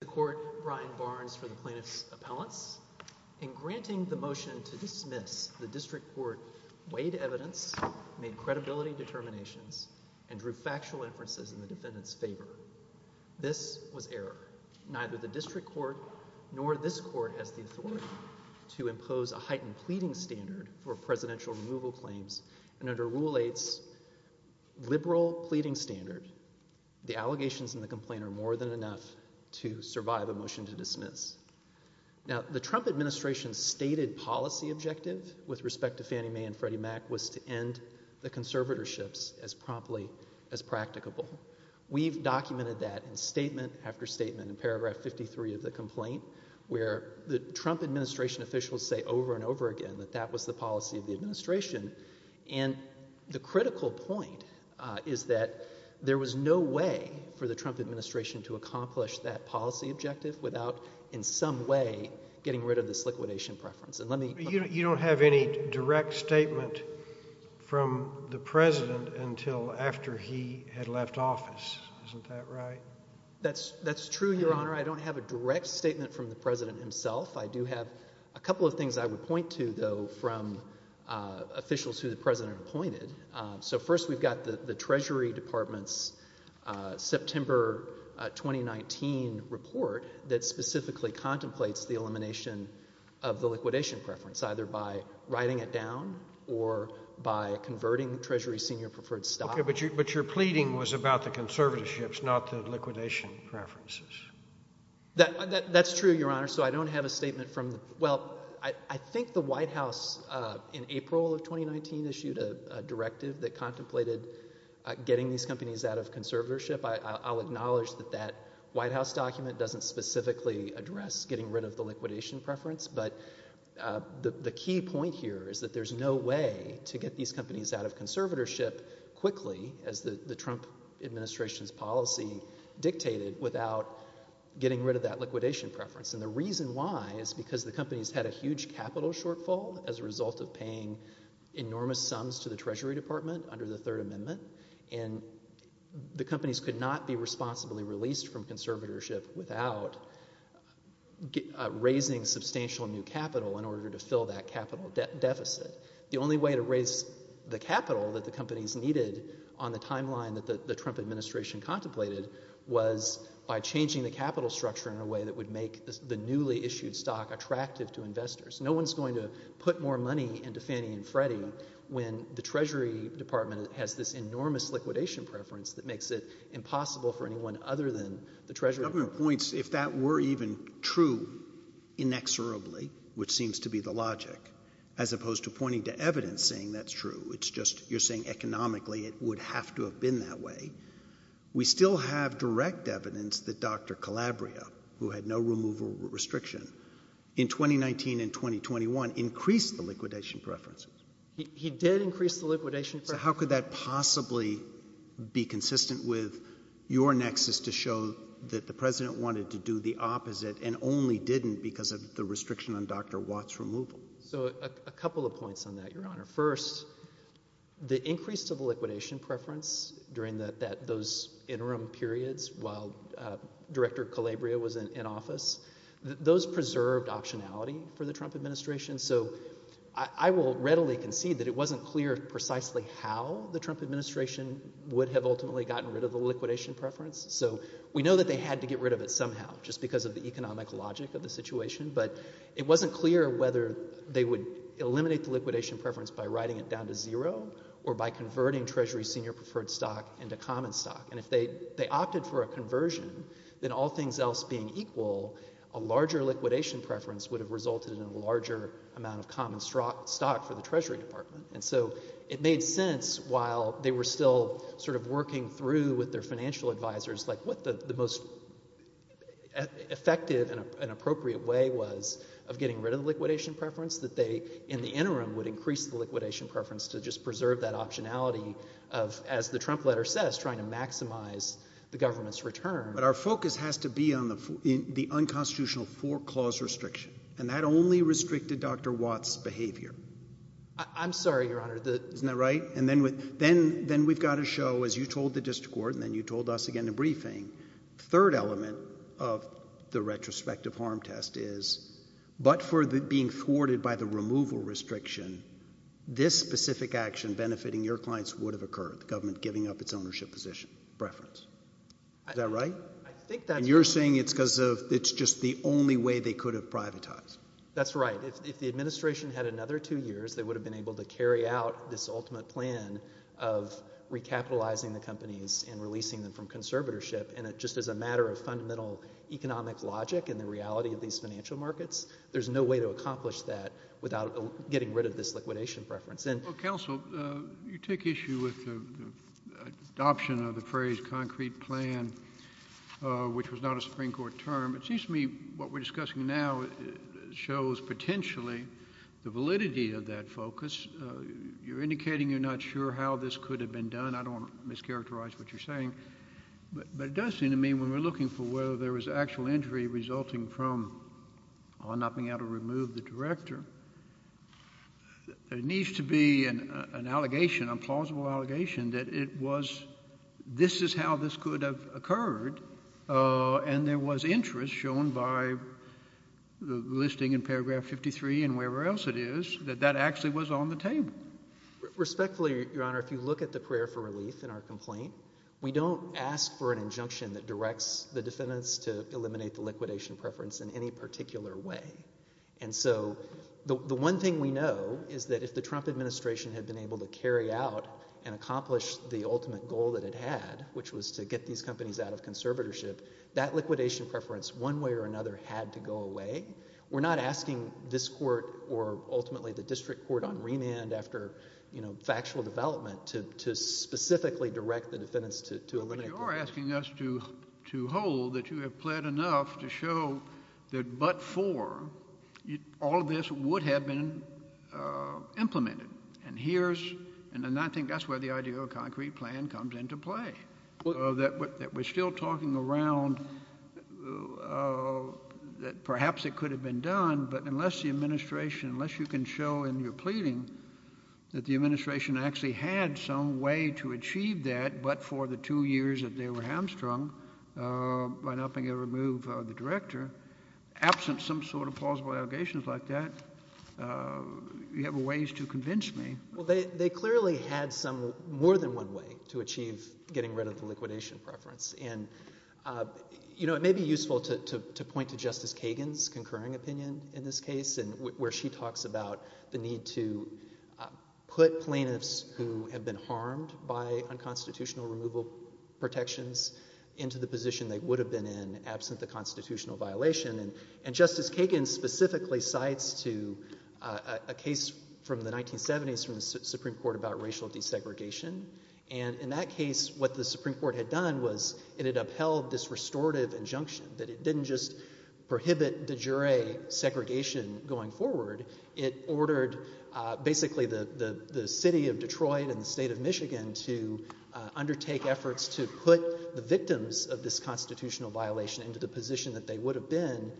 The court Brian Barnes for the plaintiff's appellants in granting the motion to dismiss the district court weighed evidence, made credibility determinations, and drew factual inferences in the defendant's favor. This was error. Neither the district court nor this court has the authority to impose a heightened pleading standard for presidential removal claims, and under Rule 8's liberal pleading standard, The allegations in the complaint are more than enough to survive a motion to dismiss. Now the Trump administration's stated policy objective with respect to Fannie Mae and Freddie Mac was to end the conservatorships as promptly as practicable. We've documented that in statement after statement in paragraph 53 of the complaint, where the Trump administration officials say over and over again that that was the policy of the administration. And the critical point is that there was no way for the Trump administration to accomplish that policy objective without in some way getting rid of this liquidation preference. And let me- You don't have any direct statement from the president until after he had left office. Isn't that right? That's true, Your Honor. I don't have a direct statement from the president himself. I do have a couple of things I would point to, though, from officials who the president appointed. So first we've got the Treasury Department's September 2019 report that specifically contemplates the elimination of the liquidation preference, either by writing it down or by converting Treasury's senior preferred stock. Okay, but your pleading was about the conservatorships, not the liquidation preferences. That's true, Your Honor. So I don't have a statement from the- Well, I think the White House in April of 2019 issued a directive that contemplated getting these companies out of conservatorship. I'll acknowledge that that White House document doesn't specifically address getting rid of the liquidation preference, but the key point here is that there's no way to get these companies out of conservatorship quickly, as the Trump administration's policy dictated, without getting rid of that liquidation preference. And the reason why is because the companies had a huge capital shortfall as a result of paying enormous sums to the Treasury Department under the Third Amendment, and the companies could not be responsibly released from conservatorship without raising substantial new capital in order to fill that capital deficit. The only way to raise the capital that the companies needed on the timeline that the Trump administration contemplated was by changing the capital structure in a way that would make the newly issued stock attractive to investors. No one's going to put more money into Fannie and Freddie when the Treasury Department has this enormous liquidation preference that makes it impossible for anyone other than the Treasury Department. The government points, if that were even true, inexorably, which seems to be the logic, as opposed to pointing to evidence saying that's true, it's just you're saying economically it would have to have been that way, we still have direct evidence that Dr. Calabria, who had no removal restriction, in 2019 and 2021 increased the liquidation preference. He did increase the liquidation preference. So how could that possibly be consistent with your nexus to show that the President wanted to do the opposite and only didn't because of the restriction on Dr. Watt's removal? So a couple of points on that, Your Honor. First, the increase to the liquidation preference during those interim periods while Director Calabria was in office, those preserved optionality for the Trump administration. So I will readily concede that it wasn't clear precisely how the Trump administration would have ultimately gotten rid of the liquidation preference. So we know that they had to get rid of it somehow just because of the economic logic of the situation, but it wasn't clear whether they would eliminate the liquidation preference by writing it down to zero or by converting Treasury's senior preferred stock into common stock. And if they opted for a conversion, then all things else being equal, a larger liquidation preference would have resulted in a larger amount of common stock for the Treasury Department. And so it made sense while they were still sort of working through with their financial advisors like what the most effective and appropriate way was of getting rid of the liquidation preference, that they, in the interim, would increase the liquidation preference to just preserve that optionality of, as the Trump letter says, trying to maximize the government's return. But our focus has to be on the unconstitutional four-clause restriction. And that only restricted Dr. Watt's behavior. I'm sorry, Your Honor. Isn't that right? And then we've got to show, as you told the district court and then you told us again in the briefing, the third element of the retrospective harm test is, but for being thwarted by the removal restriction, this specific action benefiting your clients would have occurred, the government giving up its ownership position, preference. Is that right? I think that's right. And you're saying it's because of, it's just the only way they could have privatized. That's right. If the administration had another two years, they would have been able to carry out this ultimate plan of recapitalizing the companies and releasing them from conservatorship. And just as a matter of fundamental economic logic and the reality of these financial markets, there's no way to accomplish that without getting rid of this liquidation preference. Well, counsel, you take issue with the adoption of the phrase concrete plan, which was not a Supreme Court term. It seems to me what we're discussing now shows potentially the validity of that focus. You're indicating you're not sure how this could have been done. I don't want to mischaracterize what you're saying, but it does seem to me when we're actual injury resulting from not being able to remove the director, there needs to be an allegation, a plausible allegation that it was, this is how this could have occurred. And there was interest shown by the listing in paragraph 53 and wherever else it is, that that actually was on the table. Respectfully, Your Honor, if you look at the prayer for relief in our complaint, we don't ask for an injunction that directs the defendants to eliminate the liquidation preference in any particular way. And so the one thing we know is that if the Trump administration had been able to carry out and accomplish the ultimate goal that it had, which was to get these companies out of conservatorship, that liquidation preference one way or another had to go away. We're not asking this court or ultimately the district court on remand after factual development to specifically direct the defendants to eliminate the preference. But you're asking us to hold that you have pled enough to show that but for, all of this would have been implemented. And here's, and I think that's where the idea of a concrete plan comes into play, that we're still talking around that perhaps it could have been done, but unless the administration, unless you can show in your pleading that the administration actually had some way to achieve that, but for the two years that they were hamstrung by not being able to remove the director, absent some sort of plausible allegations like that, you have a ways to convince me. Well, they, they clearly had some, more than one way to achieve getting rid of the liquidation preference. And, you know, it may be useful to, to, to point to Justice Kagan's concurring opinion in this case and where she talks about the need to put plaintiffs who have been harmed by unconstitutional removal protections into the position they would have been in absent the constitutional violation. And Justice Kagan specifically cites to a case from the 1970s from the Supreme Court about racial desegregation. And in that case, what the Supreme Court had done was it had upheld this restorative injunction that it didn't just prohibit de jure segregation going forward. It ordered basically the, the, the city of Detroit and the state of Michigan to undertake efforts to put the victims of this constitutional violation into the position that they would have been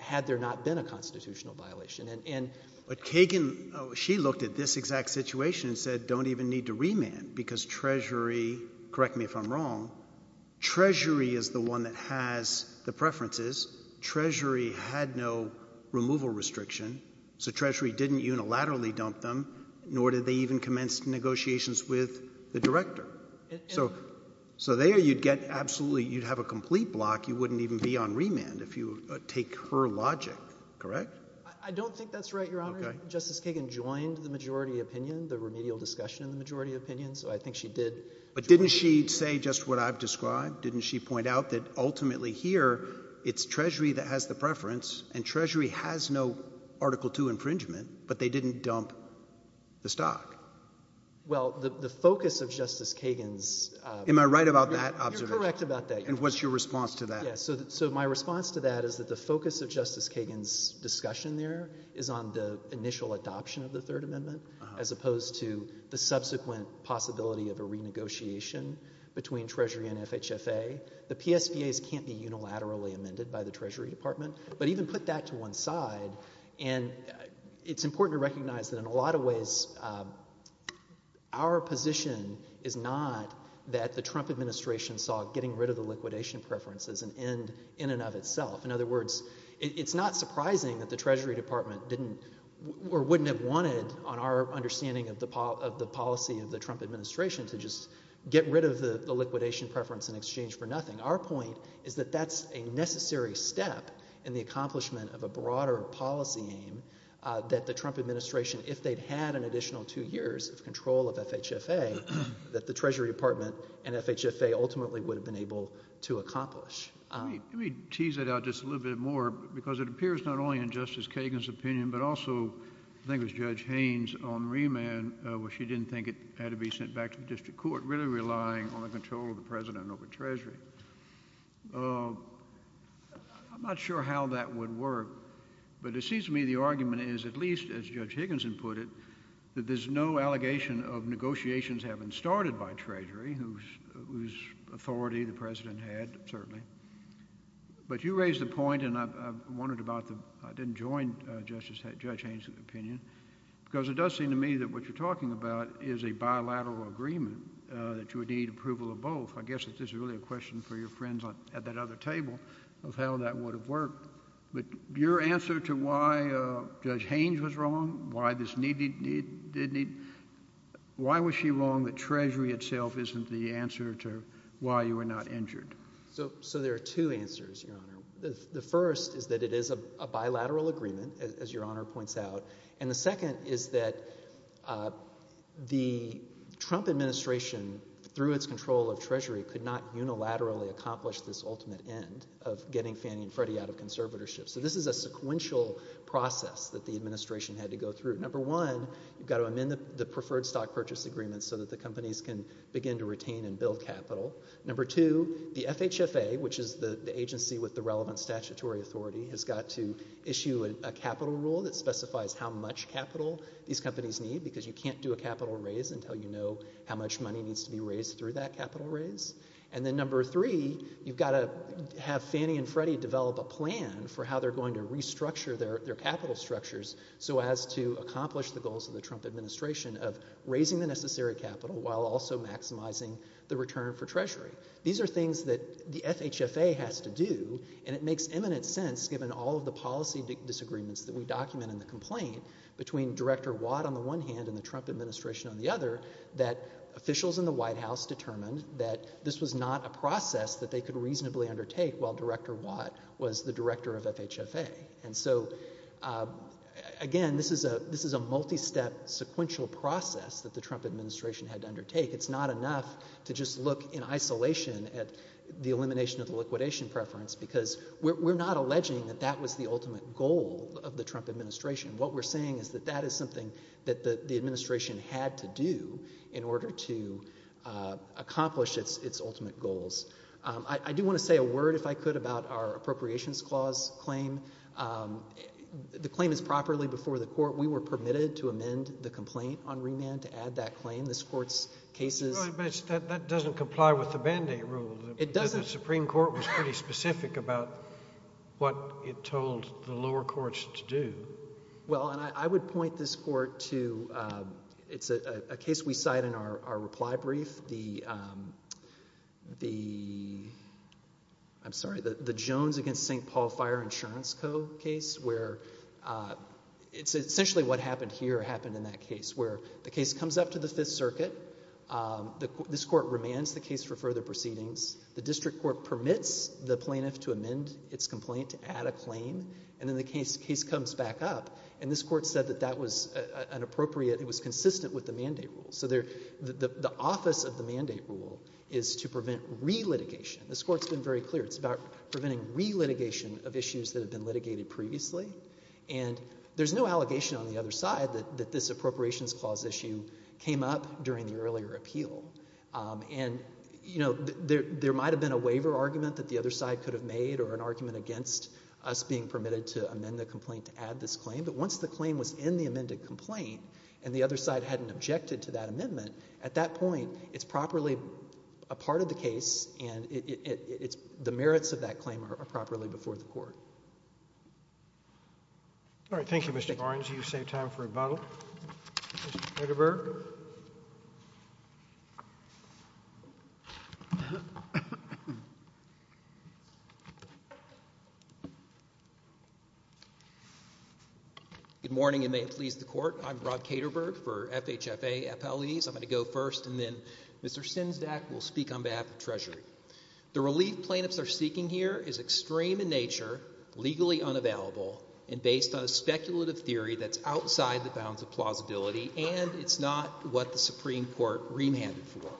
had there not been a constitutional violation. And Kagan, she looked at this exact situation and said, don't even need to remand because treasury, correct me if I'm wrong. Treasury is the one that has the preferences. Treasury had no removal restriction, so treasury didn't unilaterally dump them, nor did they even commence negotiations with the director. So, so there you'd get absolutely, you'd have a complete block. You wouldn't even be on remand if you take her logic, correct? I don't think that's right, Your Honor. Justice Kagan joined the majority opinion, the remedial discussion in the majority opinion, so I think she did. But didn't she say just what I've described? Didn't she point out that ultimately here, it's treasury that has the preference and treasury has no Article II infringement, but they didn't dump the stock? Well, the, the focus of Justice Kagan's, uh, Am I right about that observation? You're correct about that. And what's your response to that? Yeah, so, so my response to that is that the focus of Justice Kagan's discussion there is on the initial adoption of the Third Amendment as opposed to the subsequent possibility of a renegotiation between Treasury and FHFA. The PSBAs can't be unilaterally amended by the Treasury Department, but even put that to one side, and it's important to recognize that in a lot of ways, uh, our position is not that the Trump administration saw getting rid of the liquidation preference as an end in and of itself. In other words, it, it's not surprising that the Treasury Department didn't, or wouldn't have wanted on our understanding of the, of the policy of the Trump administration to just get rid of the, the liquidation preference in exchange for nothing. Our point is that that's a necessary step in the accomplishment of a broader policy aim, uh, that the Trump administration, if they'd had an additional two years of control of FHFA, that the Treasury Department and FHFA ultimately would have been able to accomplish. Let me, let me tease it out just a little bit more because it appears not only in Justice Judge Haynes' own remand, uh, where she didn't think it had to be sent back to the District Court, really relying on the control of the President over Treasury. Uh, I'm not sure how that would work, but it seems to me the argument is, at least as Judge Higginson put it, that there's no allegation of negotiations having started by Treasury, whose, whose authority the President had, certainly. But you raised the point, and I, I wondered about the, I didn't join, uh, Justice, Judge Higginson's opinion, because it does seem to me that what you're talking about is a bilateral agreement, uh, that you would need approval of both. I guess if this is really a question for your friends on, at that other table of how that would have worked. But your answer to why, uh, Judge Haynes was wrong, why this need, need, need, did need, why was she wrong that Treasury itself isn't the answer to why you were not injured? So, so there are two answers, Your Honor. The first is that it is a, a bilateral agreement, as, as Your Honor points out. And the second is that, uh, the Trump administration, through its control of Treasury, could not unilaterally accomplish this ultimate end of getting Fannie and Freddie out of conservatorship. So this is a sequential process that the administration had to go through. Number one, you've got to amend the, the preferred stock purchase agreement so that the companies can begin to retain and build capital. Number two, the FHFA, which is the, the agency with the relevant statutory authority, has got to issue a, a capital rule that specifies how much capital these companies need because you can't do a capital raise until you know how much money needs to be raised through that capital raise. And then number three, you've got to have Fannie and Freddie develop a plan for how they're going to restructure their, their capital structures so as to accomplish the goals of the Trump administration of raising the necessary capital while also maximizing the return for Treasury. These are things that the FHFA has to do, and it makes imminent sense, given all of the policy disagreements that we document in the complaint between Director Watt on the one hand and the Trump administration on the other, that officials in the White House determined that this was not a process that they could reasonably undertake while Director Watt was the director of FHFA. And so, uh, again, this is a, this is a multi-step sequential process that the Trump administration had to undertake. It's not enough to just look in isolation at the elimination of the liquidation preference because we're, we're not alleging that that was the ultimate goal of the Trump administration. What we're saying is that that is something that the, the administration had to do in order to, uh, accomplish its, its ultimate goals. Um, I, I do want to say a word if I could about our appropriations clause claim. Um, the claim is properly before the court. We were permitted to amend the complaint on remand to add that claim. This court's cases... Right, but that doesn't comply with the Band-Aid rule. It doesn't. The Supreme Court was pretty specific about what it told the lower courts to do. Well, and I, I would point this court to, um, it's a, a case we cite in our, our reply brief. The, um, the, I'm sorry, the, the Jones against St. Paul Fire Insurance Co. case where, uh, it's essentially what happened here happened in that case where the case comes up to the circuit. Um, the, this court remands the case for further proceedings. The district court permits the plaintiff to amend its complaint, to add a claim, and then the case, case comes back up, and this court said that that was, uh, uh, an appropriate, it was consistent with the Mandate Rule. So there, the, the, the office of the Mandate Rule is to prevent re-litigation. This court's been very clear. It's about preventing re-litigation of issues that have been litigated previously, and there's no allegation on the other side that, that this Appropriations Clause issue came up during the earlier appeal. Um, and, you know, there, there might have been a waiver argument that the other side could have made or an argument against us being permitted to amend the complaint to add this claim, but once the claim was in the amended complaint and the other side hadn't objected to that amendment, at that point, it's properly a part of the case and it, it, it, it's, the merits of that claim are, are properly before the court. All right. Thank you, Mr. Barnes. You've saved time for rebuttal. Mr. Katerberg. Good morning, and may it please the court. I'm Rob Katerberg for FHFA, FLEs. I'm going to go first and then Mr. Sinsdack will speak on behalf of Treasury. The relief plaintiffs are seeking here is extreme in nature. Legally unavailable and based on a speculative theory that's outside the bounds of plausibility and it's not what the Supreme Court remanded for.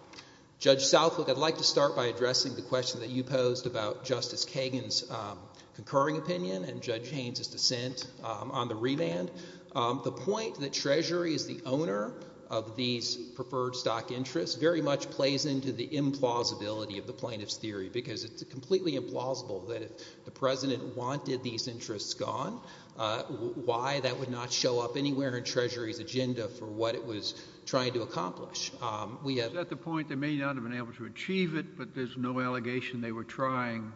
Judge Southwick, I'd like to start by addressing the question that you posed about Justice Kagan's, um, concurring opinion and Judge Haynes' dissent, um, on the remand. Um, the point that Treasury is the owner of these preferred stock interests very much plays into the implausibility of the plaintiff's theory because it's completely implausible that if the President wanted these interests gone, uh, why that would not show up anywhere in Treasury's agenda for what it was trying to accomplish. Um, we have— Is that the point? They may not have been able to achieve it, but there's no allegation they were trying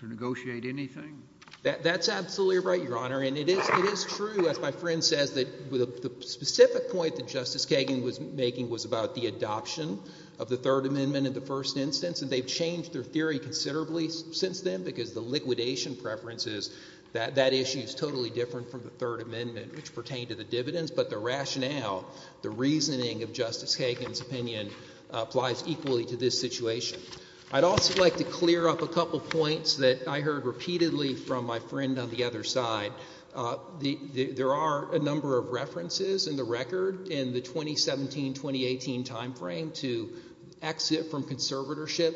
to negotiate anything? That, that's absolutely right, Your Honor, and it is, it is true, as my friend says, that the specific point that Justice Kagan was making was about the adoption of the Third Amendment in the first instance, and they've changed their theory considerably since then because the liquidation preference is, that, that issue is totally different from the Third Amendment, which pertained to the dividends, but the rationale, the reasoning of Justice Kagan's opinion applies equally to this situation. I'd also like to clear up a couple points that I heard repeatedly from my friend on the other side. Uh, the, the, there are a number of references in the record in the 2017-2018 timeframe to exit from conservatorship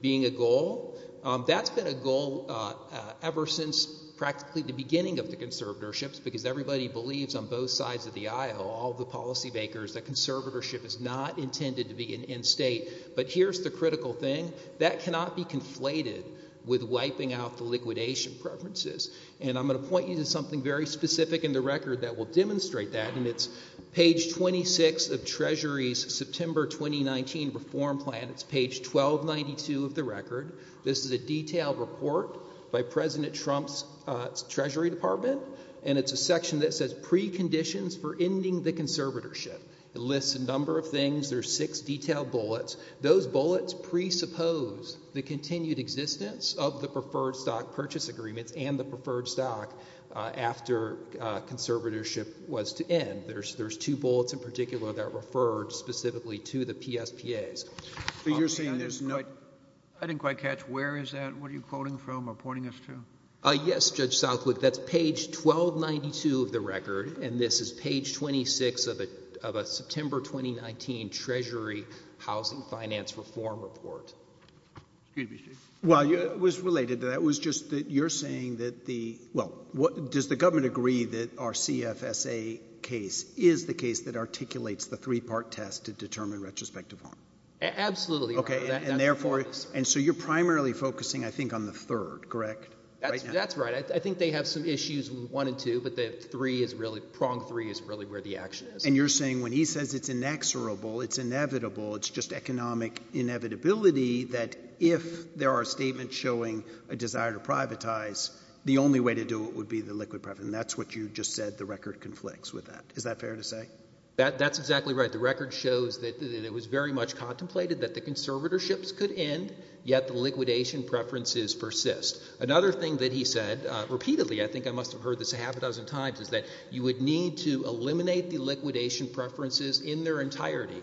being a goal. Um, that's been a goal, uh, uh, ever since practically the beginning of the conservatorships because everybody believes on both sides of the aisle, all the policy makers, that conservatorship is not intended to be an end state, but here's the critical thing, that cannot be conflated with wiping out the liquidation preferences, and I'm going to point you to something very specific in the record that will demonstrate that, and it's page 26 of Treasury's September 2019 Reform Plan, it's page 1292 of the record. This is a detailed report by President Trump's, uh, Treasury Department, and it's a section that says preconditions for ending the conservatorship. It lists a number of things, there's six detailed bullets. Those bullets presuppose the continued existence of the preferred stock purchase agreements and the preferred stock, uh, after, uh, conservatorship was to end. There's, there's two bullets in particular that refer specifically to the PSPAs. But you're saying there's no... I didn't quite catch, where is that, what are you quoting from or pointing us to? Uh, yes, Judge Southwick, that's page 1292 of the record, and this is page 26 of a, of a September 2019 Treasury Housing Finance Reform Report. Excuse me, Chief. Well, it was related to that, it was just that you're saying that the, well, does the case, is the case that articulates the three-part test to determine retrospective harm? Absolutely, Your Honor. Okay, and therefore, and so you're primarily focusing, I think, on the third, correct? Right now? That's, that's right. I, I think they have some issues, one and two, but the three is really, prong three is really where the action is. And you're saying when he says it's inexorable, it's inevitable, it's just economic inevitability that if there are statements showing a desire to privatize, the only way to do it would be the liquid private, and that's what you just said the record conflicts with that. Is that fair to say? That, that's exactly right. The record shows that, that it was very much contemplated that the conservatorships could end, yet the liquidation preferences persist. Another thing that he said repeatedly, I think I must have heard this a half a dozen times, is that you would need to eliminate the liquidation preferences in their entirety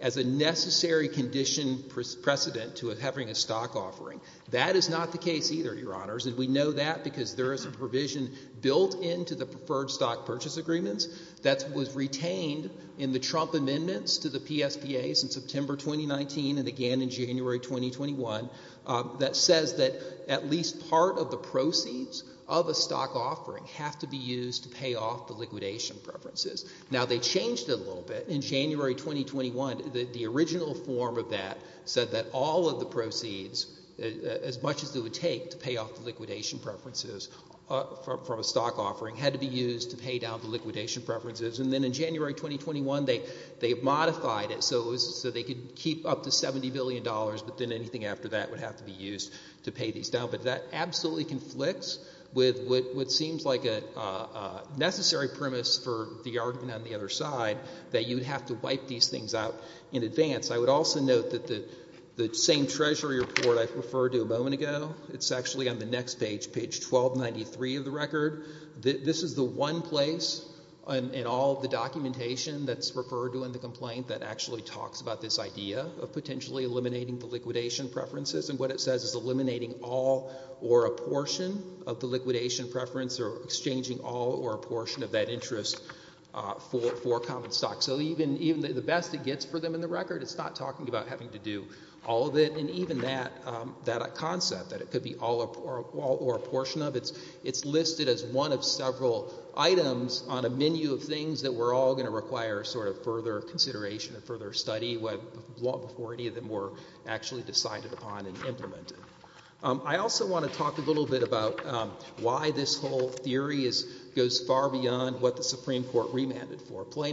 as a necessary condition precedent to having a stock offering. That is not the case either, Your Honors, and we know that because there is a provision built into the preferred stock purchase agreements that was retained in the Trump amendments to the PSPAs in September 2019 and again in January 2021 that says that at least part of the proceeds of a stock offering have to be used to pay off the liquidation preferences. Now they changed it a little bit in January 2021. The original form of that said that all of the proceeds, as much as it would take to from a stock offering, had to be used to pay down the liquidation preferences. And then in January 2021, they, they modified it so it was, so they could keep up to $70 billion, but then anything after that would have to be used to pay these down. But that absolutely conflicts with what, what seems like a necessary premise for the argument on the other side, that you would have to wipe these things out in advance. I would also note that the, the same Treasury report I referred to a moment ago, it's actually on the next page, page 1293 of the record. This is the one place in all the documentation that's referred to in the complaint that actually talks about this idea of potentially eliminating the liquidation preferences and what it says is eliminating all or a portion of the liquidation preference or exchanging all or a portion of that interest for, for common stock. So even, even the best it gets for them in the record, it's not talking about having to do all of it and even that, that concept that it could be all or a portion of, it's, it's listed as one of several items on a menu of things that we're all going to require sort of further consideration and further study what, before any of them were actually decided upon and implemented. I also want to talk a little bit about why this whole theory is, goes far beyond what the Supreme Court remanded for. They put them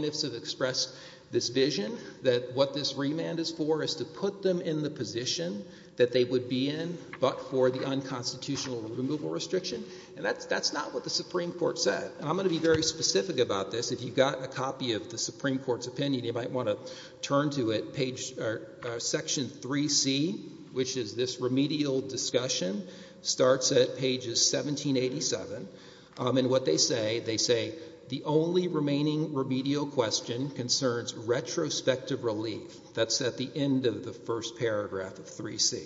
in the position that they would be in but for the unconstitutional removal restriction and that's, that's not what the Supreme Court said. I'm going to be very specific about this. If you've got a copy of the Supreme Court's opinion, you might want to turn to it, page, Section 3C, which is this remedial discussion, starts at pages 1787 and what they say, they say the only remaining remedial question concerns retrospective relief. That's at the end of the first paragraph of 3C.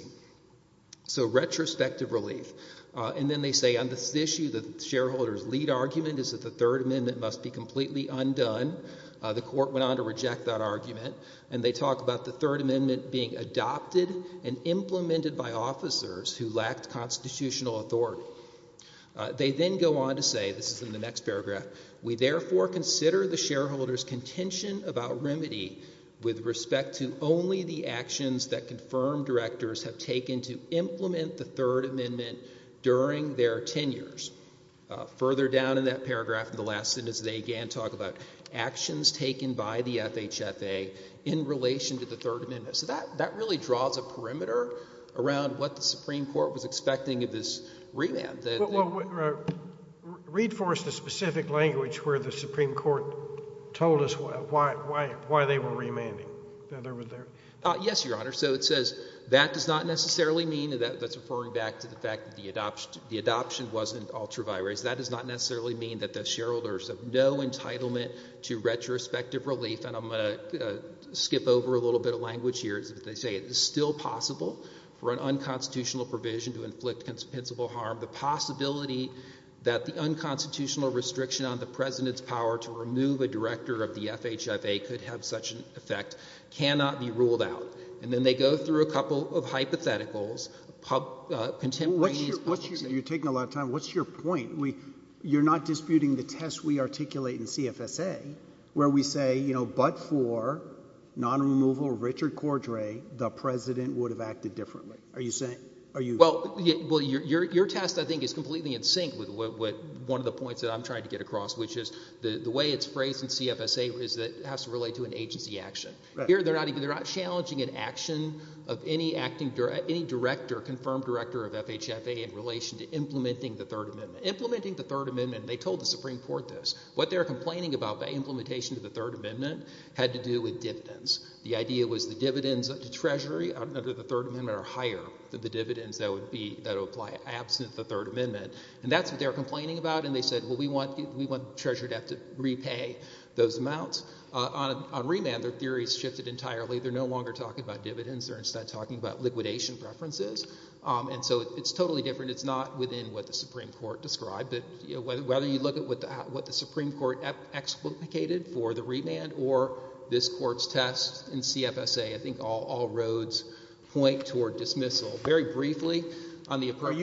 So retrospective relief and then they say on this issue, the shareholder's lead argument is that the Third Amendment must be completely undone. The court went on to reject that argument and they talk about the Third Amendment being adopted and implemented by officers who lacked constitutional authority. They then go on to say, this is in the next paragraph, we therefore consider the shareholder's intention about remedy with respect to only the actions that confirmed directors have taken to implement the Third Amendment during their tenures. Further down in that paragraph in the last sentence, they again talk about actions taken by the FHFA in relation to the Third Amendment. So that, that really draws a perimeter around what the Supreme Court was expecting of this remand. Well, read for us the specific language where the Supreme Court told us why, why, why they were remanding. Yes, Your Honor. So it says, that does not necessarily mean, and that's referring back to the fact that the adoption wasn't ultra vires, that does not necessarily mean that the shareholders have no entitlement to retrospective relief, and I'm going to skip over a little bit of language here. They say it is still possible for an unconstitutional provision to inflict compensable harm. The possibility that the unconstitutional restriction on the President's power to remove a director of the FHFA could have such an effect cannot be ruled out. And then they go through a couple of hypotheticals, uh, contemplating his public safety. You're taking a lot of time. What's your point? We, you're not disputing the test we articulate in CFSA where we say, you know, but for non-removal Richard Cordray, the President would have acted differently. Are you saying? Are you? Well, your test, I think, is completely in sync with one of the points that I'm trying to get across, which is the way it's phrased in CFSA is that it has to relate to an agency action. Here, they're not even, they're not challenging an action of any acting, any director, confirmed director of FHFA in relation to implementing the Third Amendment. Implementing the Third Amendment, they told the Supreme Court this. What they're complaining about by implementation of the Third Amendment had to do with dividends. The idea was the dividends to Treasury under the Third Amendment are higher than the dividends that would be, that would apply absent the Third Amendment, and that's what they're complaining about, and they said, well, we want Treasury to have to repay those amounts. On remand, their theory's shifted entirely. They're no longer talking about dividends. They're instead talking about liquidation preferences, and so it's totally different. It's not within what the Supreme Court described, but whether you look at what the Supreme Court explicated for the remand or this Court's test in CFSA, I think all roads point toward dismissal. So, very briefly, on the approach...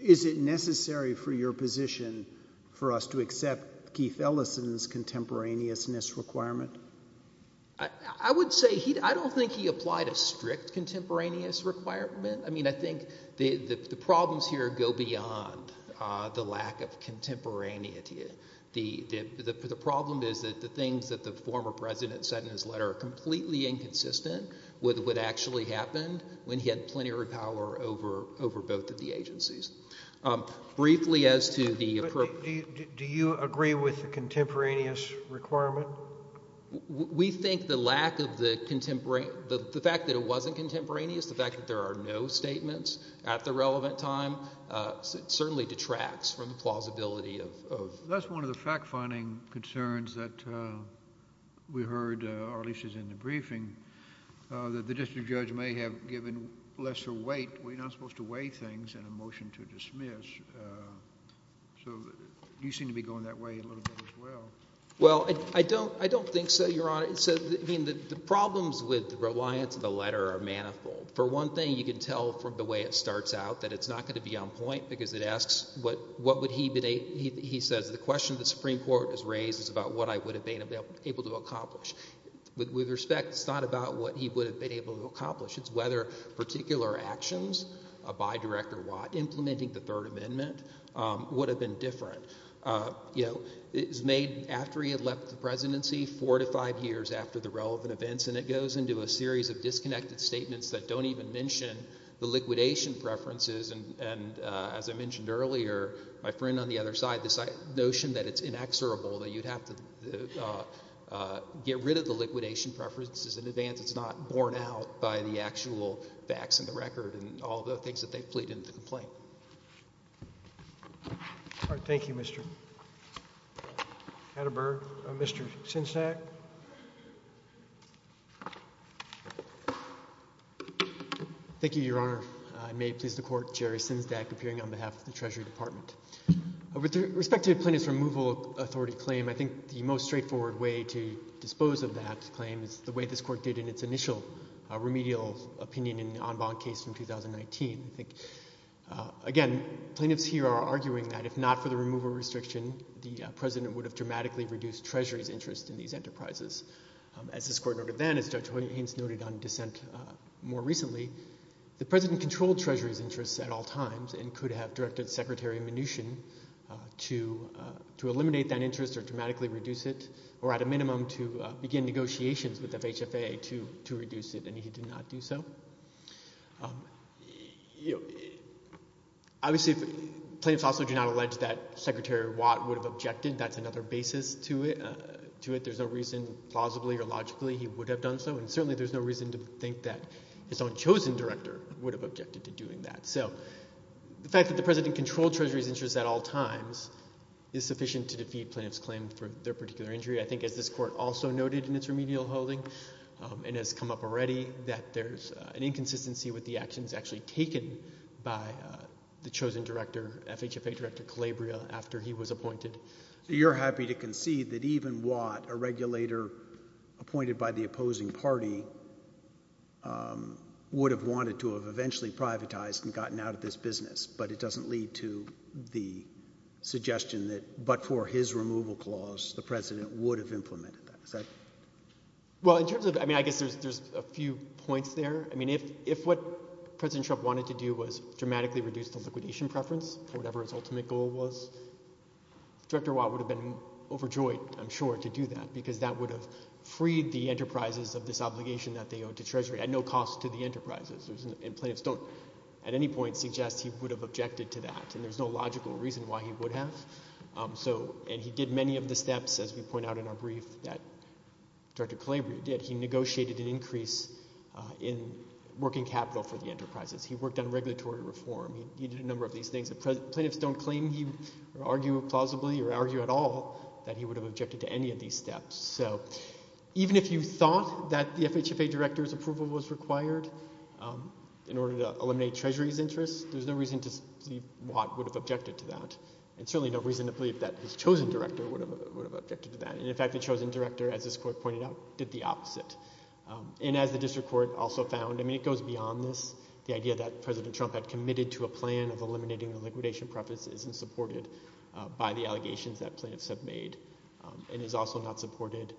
Is it necessary for your position for us to accept Keith Ellison's contemporaneousness requirement? I would say, I don't think he applied a strict contemporaneous requirement. I mean, I think the problems here go beyond the lack of contemporaneity. The problem is that the things that the former president said in his letter are completely inconsistent with what actually happened when he had plenary power over both of the agencies. Briefly as to the... Do you agree with the contemporaneous requirement? We think the lack of the, the fact that it wasn't contemporaneous, the fact that there are no statements at the relevant time, certainly detracts from the plausibility of... That's one of the fact-finding concerns that we heard, or at least it's in the briefing, that the district judge may have given lesser weight. We're not supposed to weigh things in a motion to dismiss, so you seem to be going that way a little bit as well. Well, I don't, I don't think so, Your Honor. So, I mean, the problems with the reliance of the letter are manifold. For one thing, you can tell from the way it starts out that it's not going to be on point because it asks what, what would he, he says the question the Supreme Court has raised is about what I would have been able to accomplish. With respect, it's not about what he would have been able to accomplish, it's whether particular actions by Director Watt implementing the Third Amendment would have been different. You know, it was made after he had left the presidency, four to five years after the relevant events, and it goes into a series of disconnected statements that don't even mention the liquidation preferences, and as I mentioned earlier, my friend on the other side, this notion that it's inexorable, that you'd have to get rid of the liquidation preferences in advance, it's not borne out by the actual facts in the record and all the things that they've pleaded in the complaint. All right, thank you, Mr. Atterberg. Mr. Sinsack? Thank you, Your Honor. I may please the Court, Jerry Sinsack, appearing on behalf of the Treasury Department. With respect to the Plaintiff's removal authority claim, I think the most straightforward way to dispose of that claim is the way this Court did in its initial remedial opinion in the En Bond case from 2019. I think, again, plaintiffs here are arguing that if not for the removal restriction, the President would have dramatically reduced Treasury's interest in these enterprises. As this Court noted then, as Judge Hoyt Haines noted on dissent more recently, the President controlled Treasury's interests at all times and could have directed Secretary Mnuchin to eliminate that interest or dramatically reduce it, or at a minimum, to begin negotiations with FHFA to reduce it, and he did not do so. Obviously, plaintiffs also do not allege that Secretary Watt would have objected. That's another basis to it. There's no reason, plausibly or logically, he would have done so, and certainly there's no reason to think that his own chosen director would have objected to doing that. So the fact that the President controlled Treasury's interests at all times is sufficient to defeat plaintiffs' claim for their particular injury. I think, as this Court also noted in its remedial holding and has come up already, that there's an inconsistency with the actions actually taken by the chosen director, FHFA Director Calabria, after he was appointed. So you're happy to concede that even Watt, a regulator appointed by the opposing party, would have wanted to have eventually privatized and gotten out of this business, but it doesn't lead to the suggestion that, but for his removal clause, the President would have implemented that. Well, in terms of, I mean, I guess there's a few points there. I mean, if what President Trump wanted to do was dramatically reduce the liquidation preference, whatever his ultimate goal was, Director Watt would have been overjoyed, I'm sure, to do that, because that would have freed the enterprises of this obligation that they owed to Treasury at no cost to the enterprises, and plaintiffs don't, at any point, suggest he would have objected to that, and there's no logical reason why he would have. So, and he did many of the steps, as we point out in our brief, that Director Calabria did. He negotiated an increase in working capital for the enterprises. He worked on regulatory reform. He did a number of these things. The plaintiffs don't claim, or argue plausibly, or argue at all that he would have objected to any of these steps, so even if you thought that the FHFA Director's approval was required in order to eliminate Treasury's interests, there's no reason to believe Watt would have objected to that, and certainly no reason to believe that his chosen Director would have objected to that, and in fact, the chosen Director, as this Court pointed out, did the opposite. And as the District Court also found, I mean, it goes beyond this, the idea that President Obama's new plan of eliminating the liquidation preference isn't supported by the allegations that plaintiffs have made, and is also not supported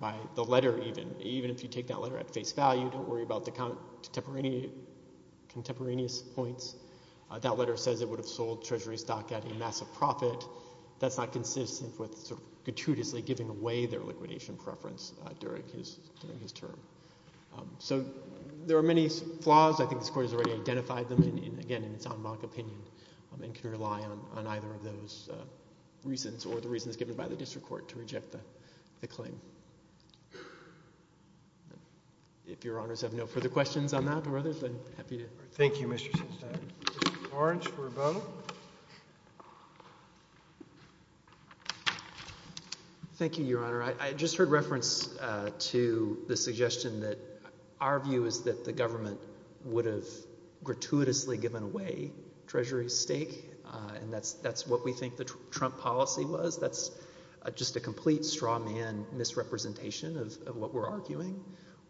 by the letter, even. Even if you take that letter at face value, don't worry about the contemporaneous points. That letter says it would have sold Treasury stock at a massive profit. That's not consistent with sort of gratuitously giving away their liquidation preference during his term. So, there are many flaws, I think this Court has already identified them, again, in its en banc opinion, and can rely on either of those reasons, or the reasons given by the District Court, to reject the claim. If Your Honors have no further questions on that, or others, I'm happy to... Thank you, Mr. Sinclair. Mr. Orange for a vote. Thank you, Your Honor. I just heard reference to the suggestion that our view is that the government would have gratuitously given away Treasury's stake, and that's what we think the Trump policy was. That's just a complete straw man misrepresentation of what we're arguing.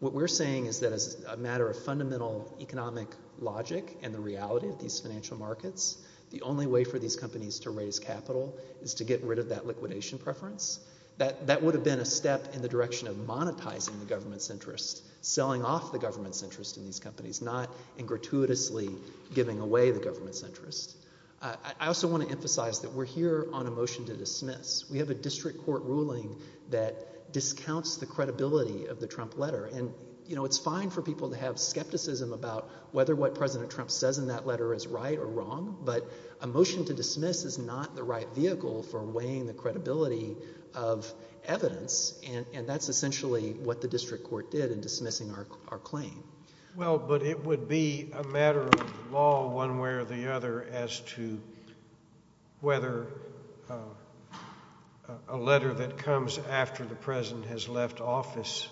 What we're saying is that as a matter of fundamental economic logic, and the reality of these financial markets, the only way for these companies to raise capital is to get rid of that liquidation preference. That would have been a step in the direction of monetizing the government's interest, selling off the government's interest in these companies, not in gratuitously giving away the government's interest. I also want to emphasize that we're here on a motion to dismiss. We have a District Court ruling that discounts the credibility of the Trump letter, and, you know, it's fine for people to have skepticism about whether what President Trump says in that letter is right or wrong, but a motion to dismiss is not the right vehicle for weighing the credibility of evidence, and that's essentially what the District Court did in dismissing our claim. Well, but it would be a matter of law one way or the other as to whether a letter that comes after the President has left office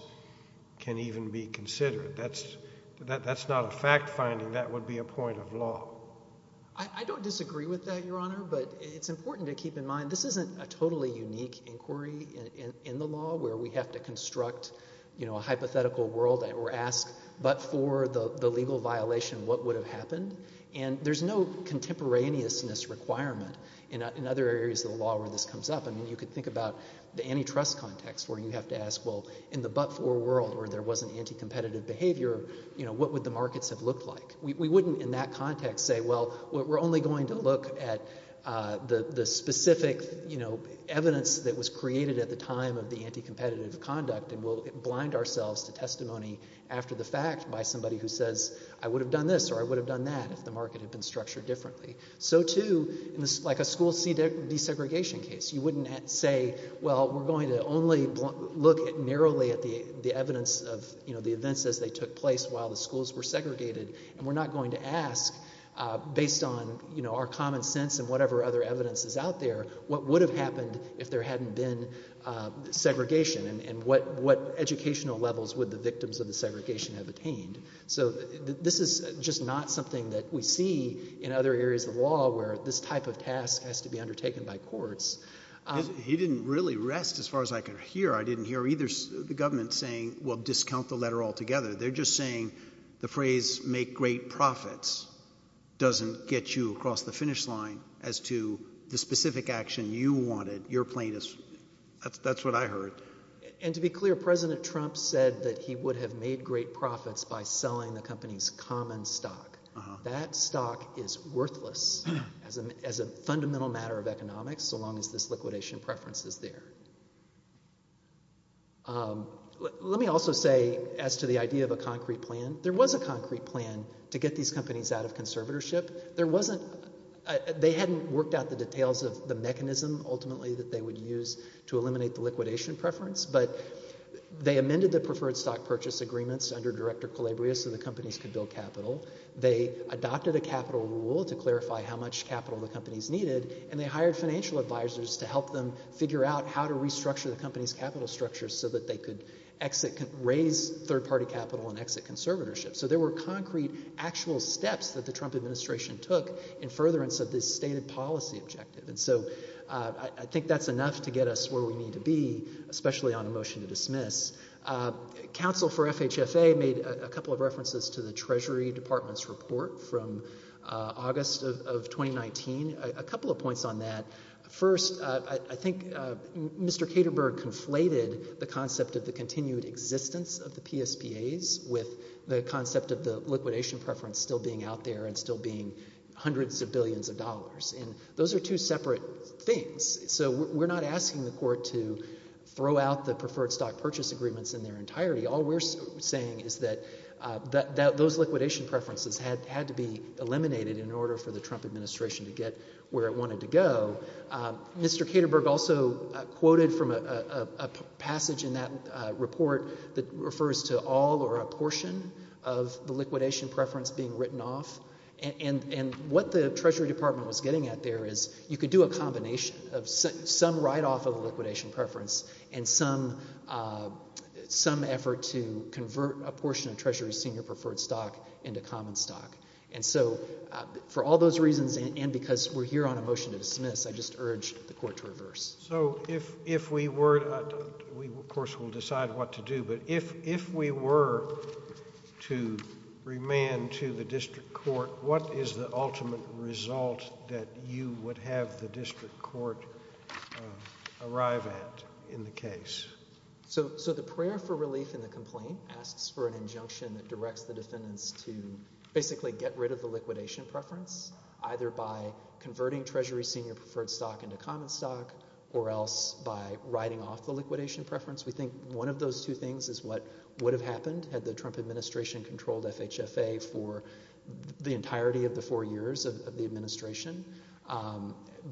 can even be considered. That's not a fact finding. That would be a point of law. I don't disagree with that, Your Honor, but it's important to keep in mind this isn't a totally unique inquiry in the law where we have to construct, you know, a hypothetical world or ask but for the legal violation, what would have happened? And there's no contemporaneousness requirement in other areas of the law where this comes up. I mean, you could think about the antitrust context where you have to ask, well, in the but for world where there wasn't anti-competitive behavior, you know, what would the markets have looked like? We wouldn't in that context say, well, we're only going to look at the specific, you know, evidence that was created at the time of the anti-competitive conduct and we'll blind ourselves to testimony after the fact by somebody who says, I would have done this or I would have done that if the market had been structured differently. So too, like a school desegregation case, you wouldn't say, well, we're going to only look narrowly at the evidence of, you know, the events as they took place while the schools were segregated and we're not going to ask based on, you know, our common sense and whatever other evidence is out there, what would have happened if there hadn't been segregation and what educational levels would the victims of the segregation have attained? So this is just not something that we see in other areas of law where this type of task has to be undertaken by courts. He didn't really rest as far as I could hear. I didn't hear either the government saying, well, discount the letter altogether. They're just saying the phrase make great profits doesn't get you across the finish line as to the specific action you wanted, your plaintiffs. That's what I heard. And to be clear, President Trump said that he would have made great profits by selling the company's common stock. That stock is worthless as a fundamental matter of economics so long as this liquidation preference is there. Let me also say as to the idea of a concrete plan, there was a concrete plan to get these companies out of conservatorship. There wasn't, they hadn't worked out the details of the mechanism ultimately that they would use to eliminate the liquidation preference, but they amended the preferred stock purchase agreements under Director Calabria so the companies could build capital. They adopted a capital rule to clarify how much capital the companies needed and they restructured the company's capital structure so that they could exit, raise third party capital and exit conservatorship. So there were concrete, actual steps that the Trump administration took in furtherance of this stated policy objective. And so I think that's enough to get us where we need to be, especially on a motion to dismiss. Counsel for FHFA made a couple of references to the Treasury Department's report from August of 2019. A couple of points on that. First, I think Mr. Katerberg conflated the concept of the continued existence of the PSPAs with the concept of the liquidation preference still being out there and still being hundreds of billions of dollars. And those are two separate things. So we're not asking the court to throw out the preferred stock purchase agreements in their entirety. All we're saying is that those liquidation preferences had to be eliminated in order for the Trump administration to get where it wanted to go. Mr. Katerberg also quoted from a passage in that report that refers to all or a portion of the liquidation preference being written off. And what the Treasury Department was getting at there is you could do a combination of some write off of the liquidation preference and some effort to convert a portion of Treasury's senior preferred stock into common stock. And so for all those reasons and because we're here on a motion to dismiss, I just urge the court to reverse. So if we were, of course we'll decide what to do, but if we were to remand to the district court, what is the ultimate result that you would have the district court arrive at in the case? So the prayer for relief in the complaint asks for an injunction that directs the defendants to basically get rid of the liquidation preference either by converting Treasury's senior preferred stock into common stock or else by writing off the liquidation preference. We think one of those two things is what would have happened had the Trump administration controlled FHFA for the entirety of the four years of the administration.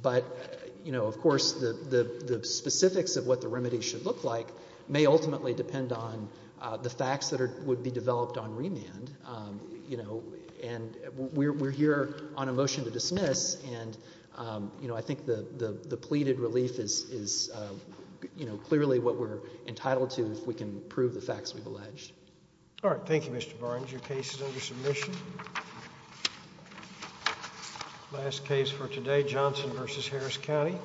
But you know, of course the specifics of what the remedy should look like may ultimately depend on the facts that would be developed on remand. You know, and we're here on a motion to dismiss and I think the pleaded relief is clearly what we're entitled to if we can prove the facts we've alleged. All right. Thank you, Mr. Barnes. Your case is under submission. Last case for today, Johnson v. Harris County.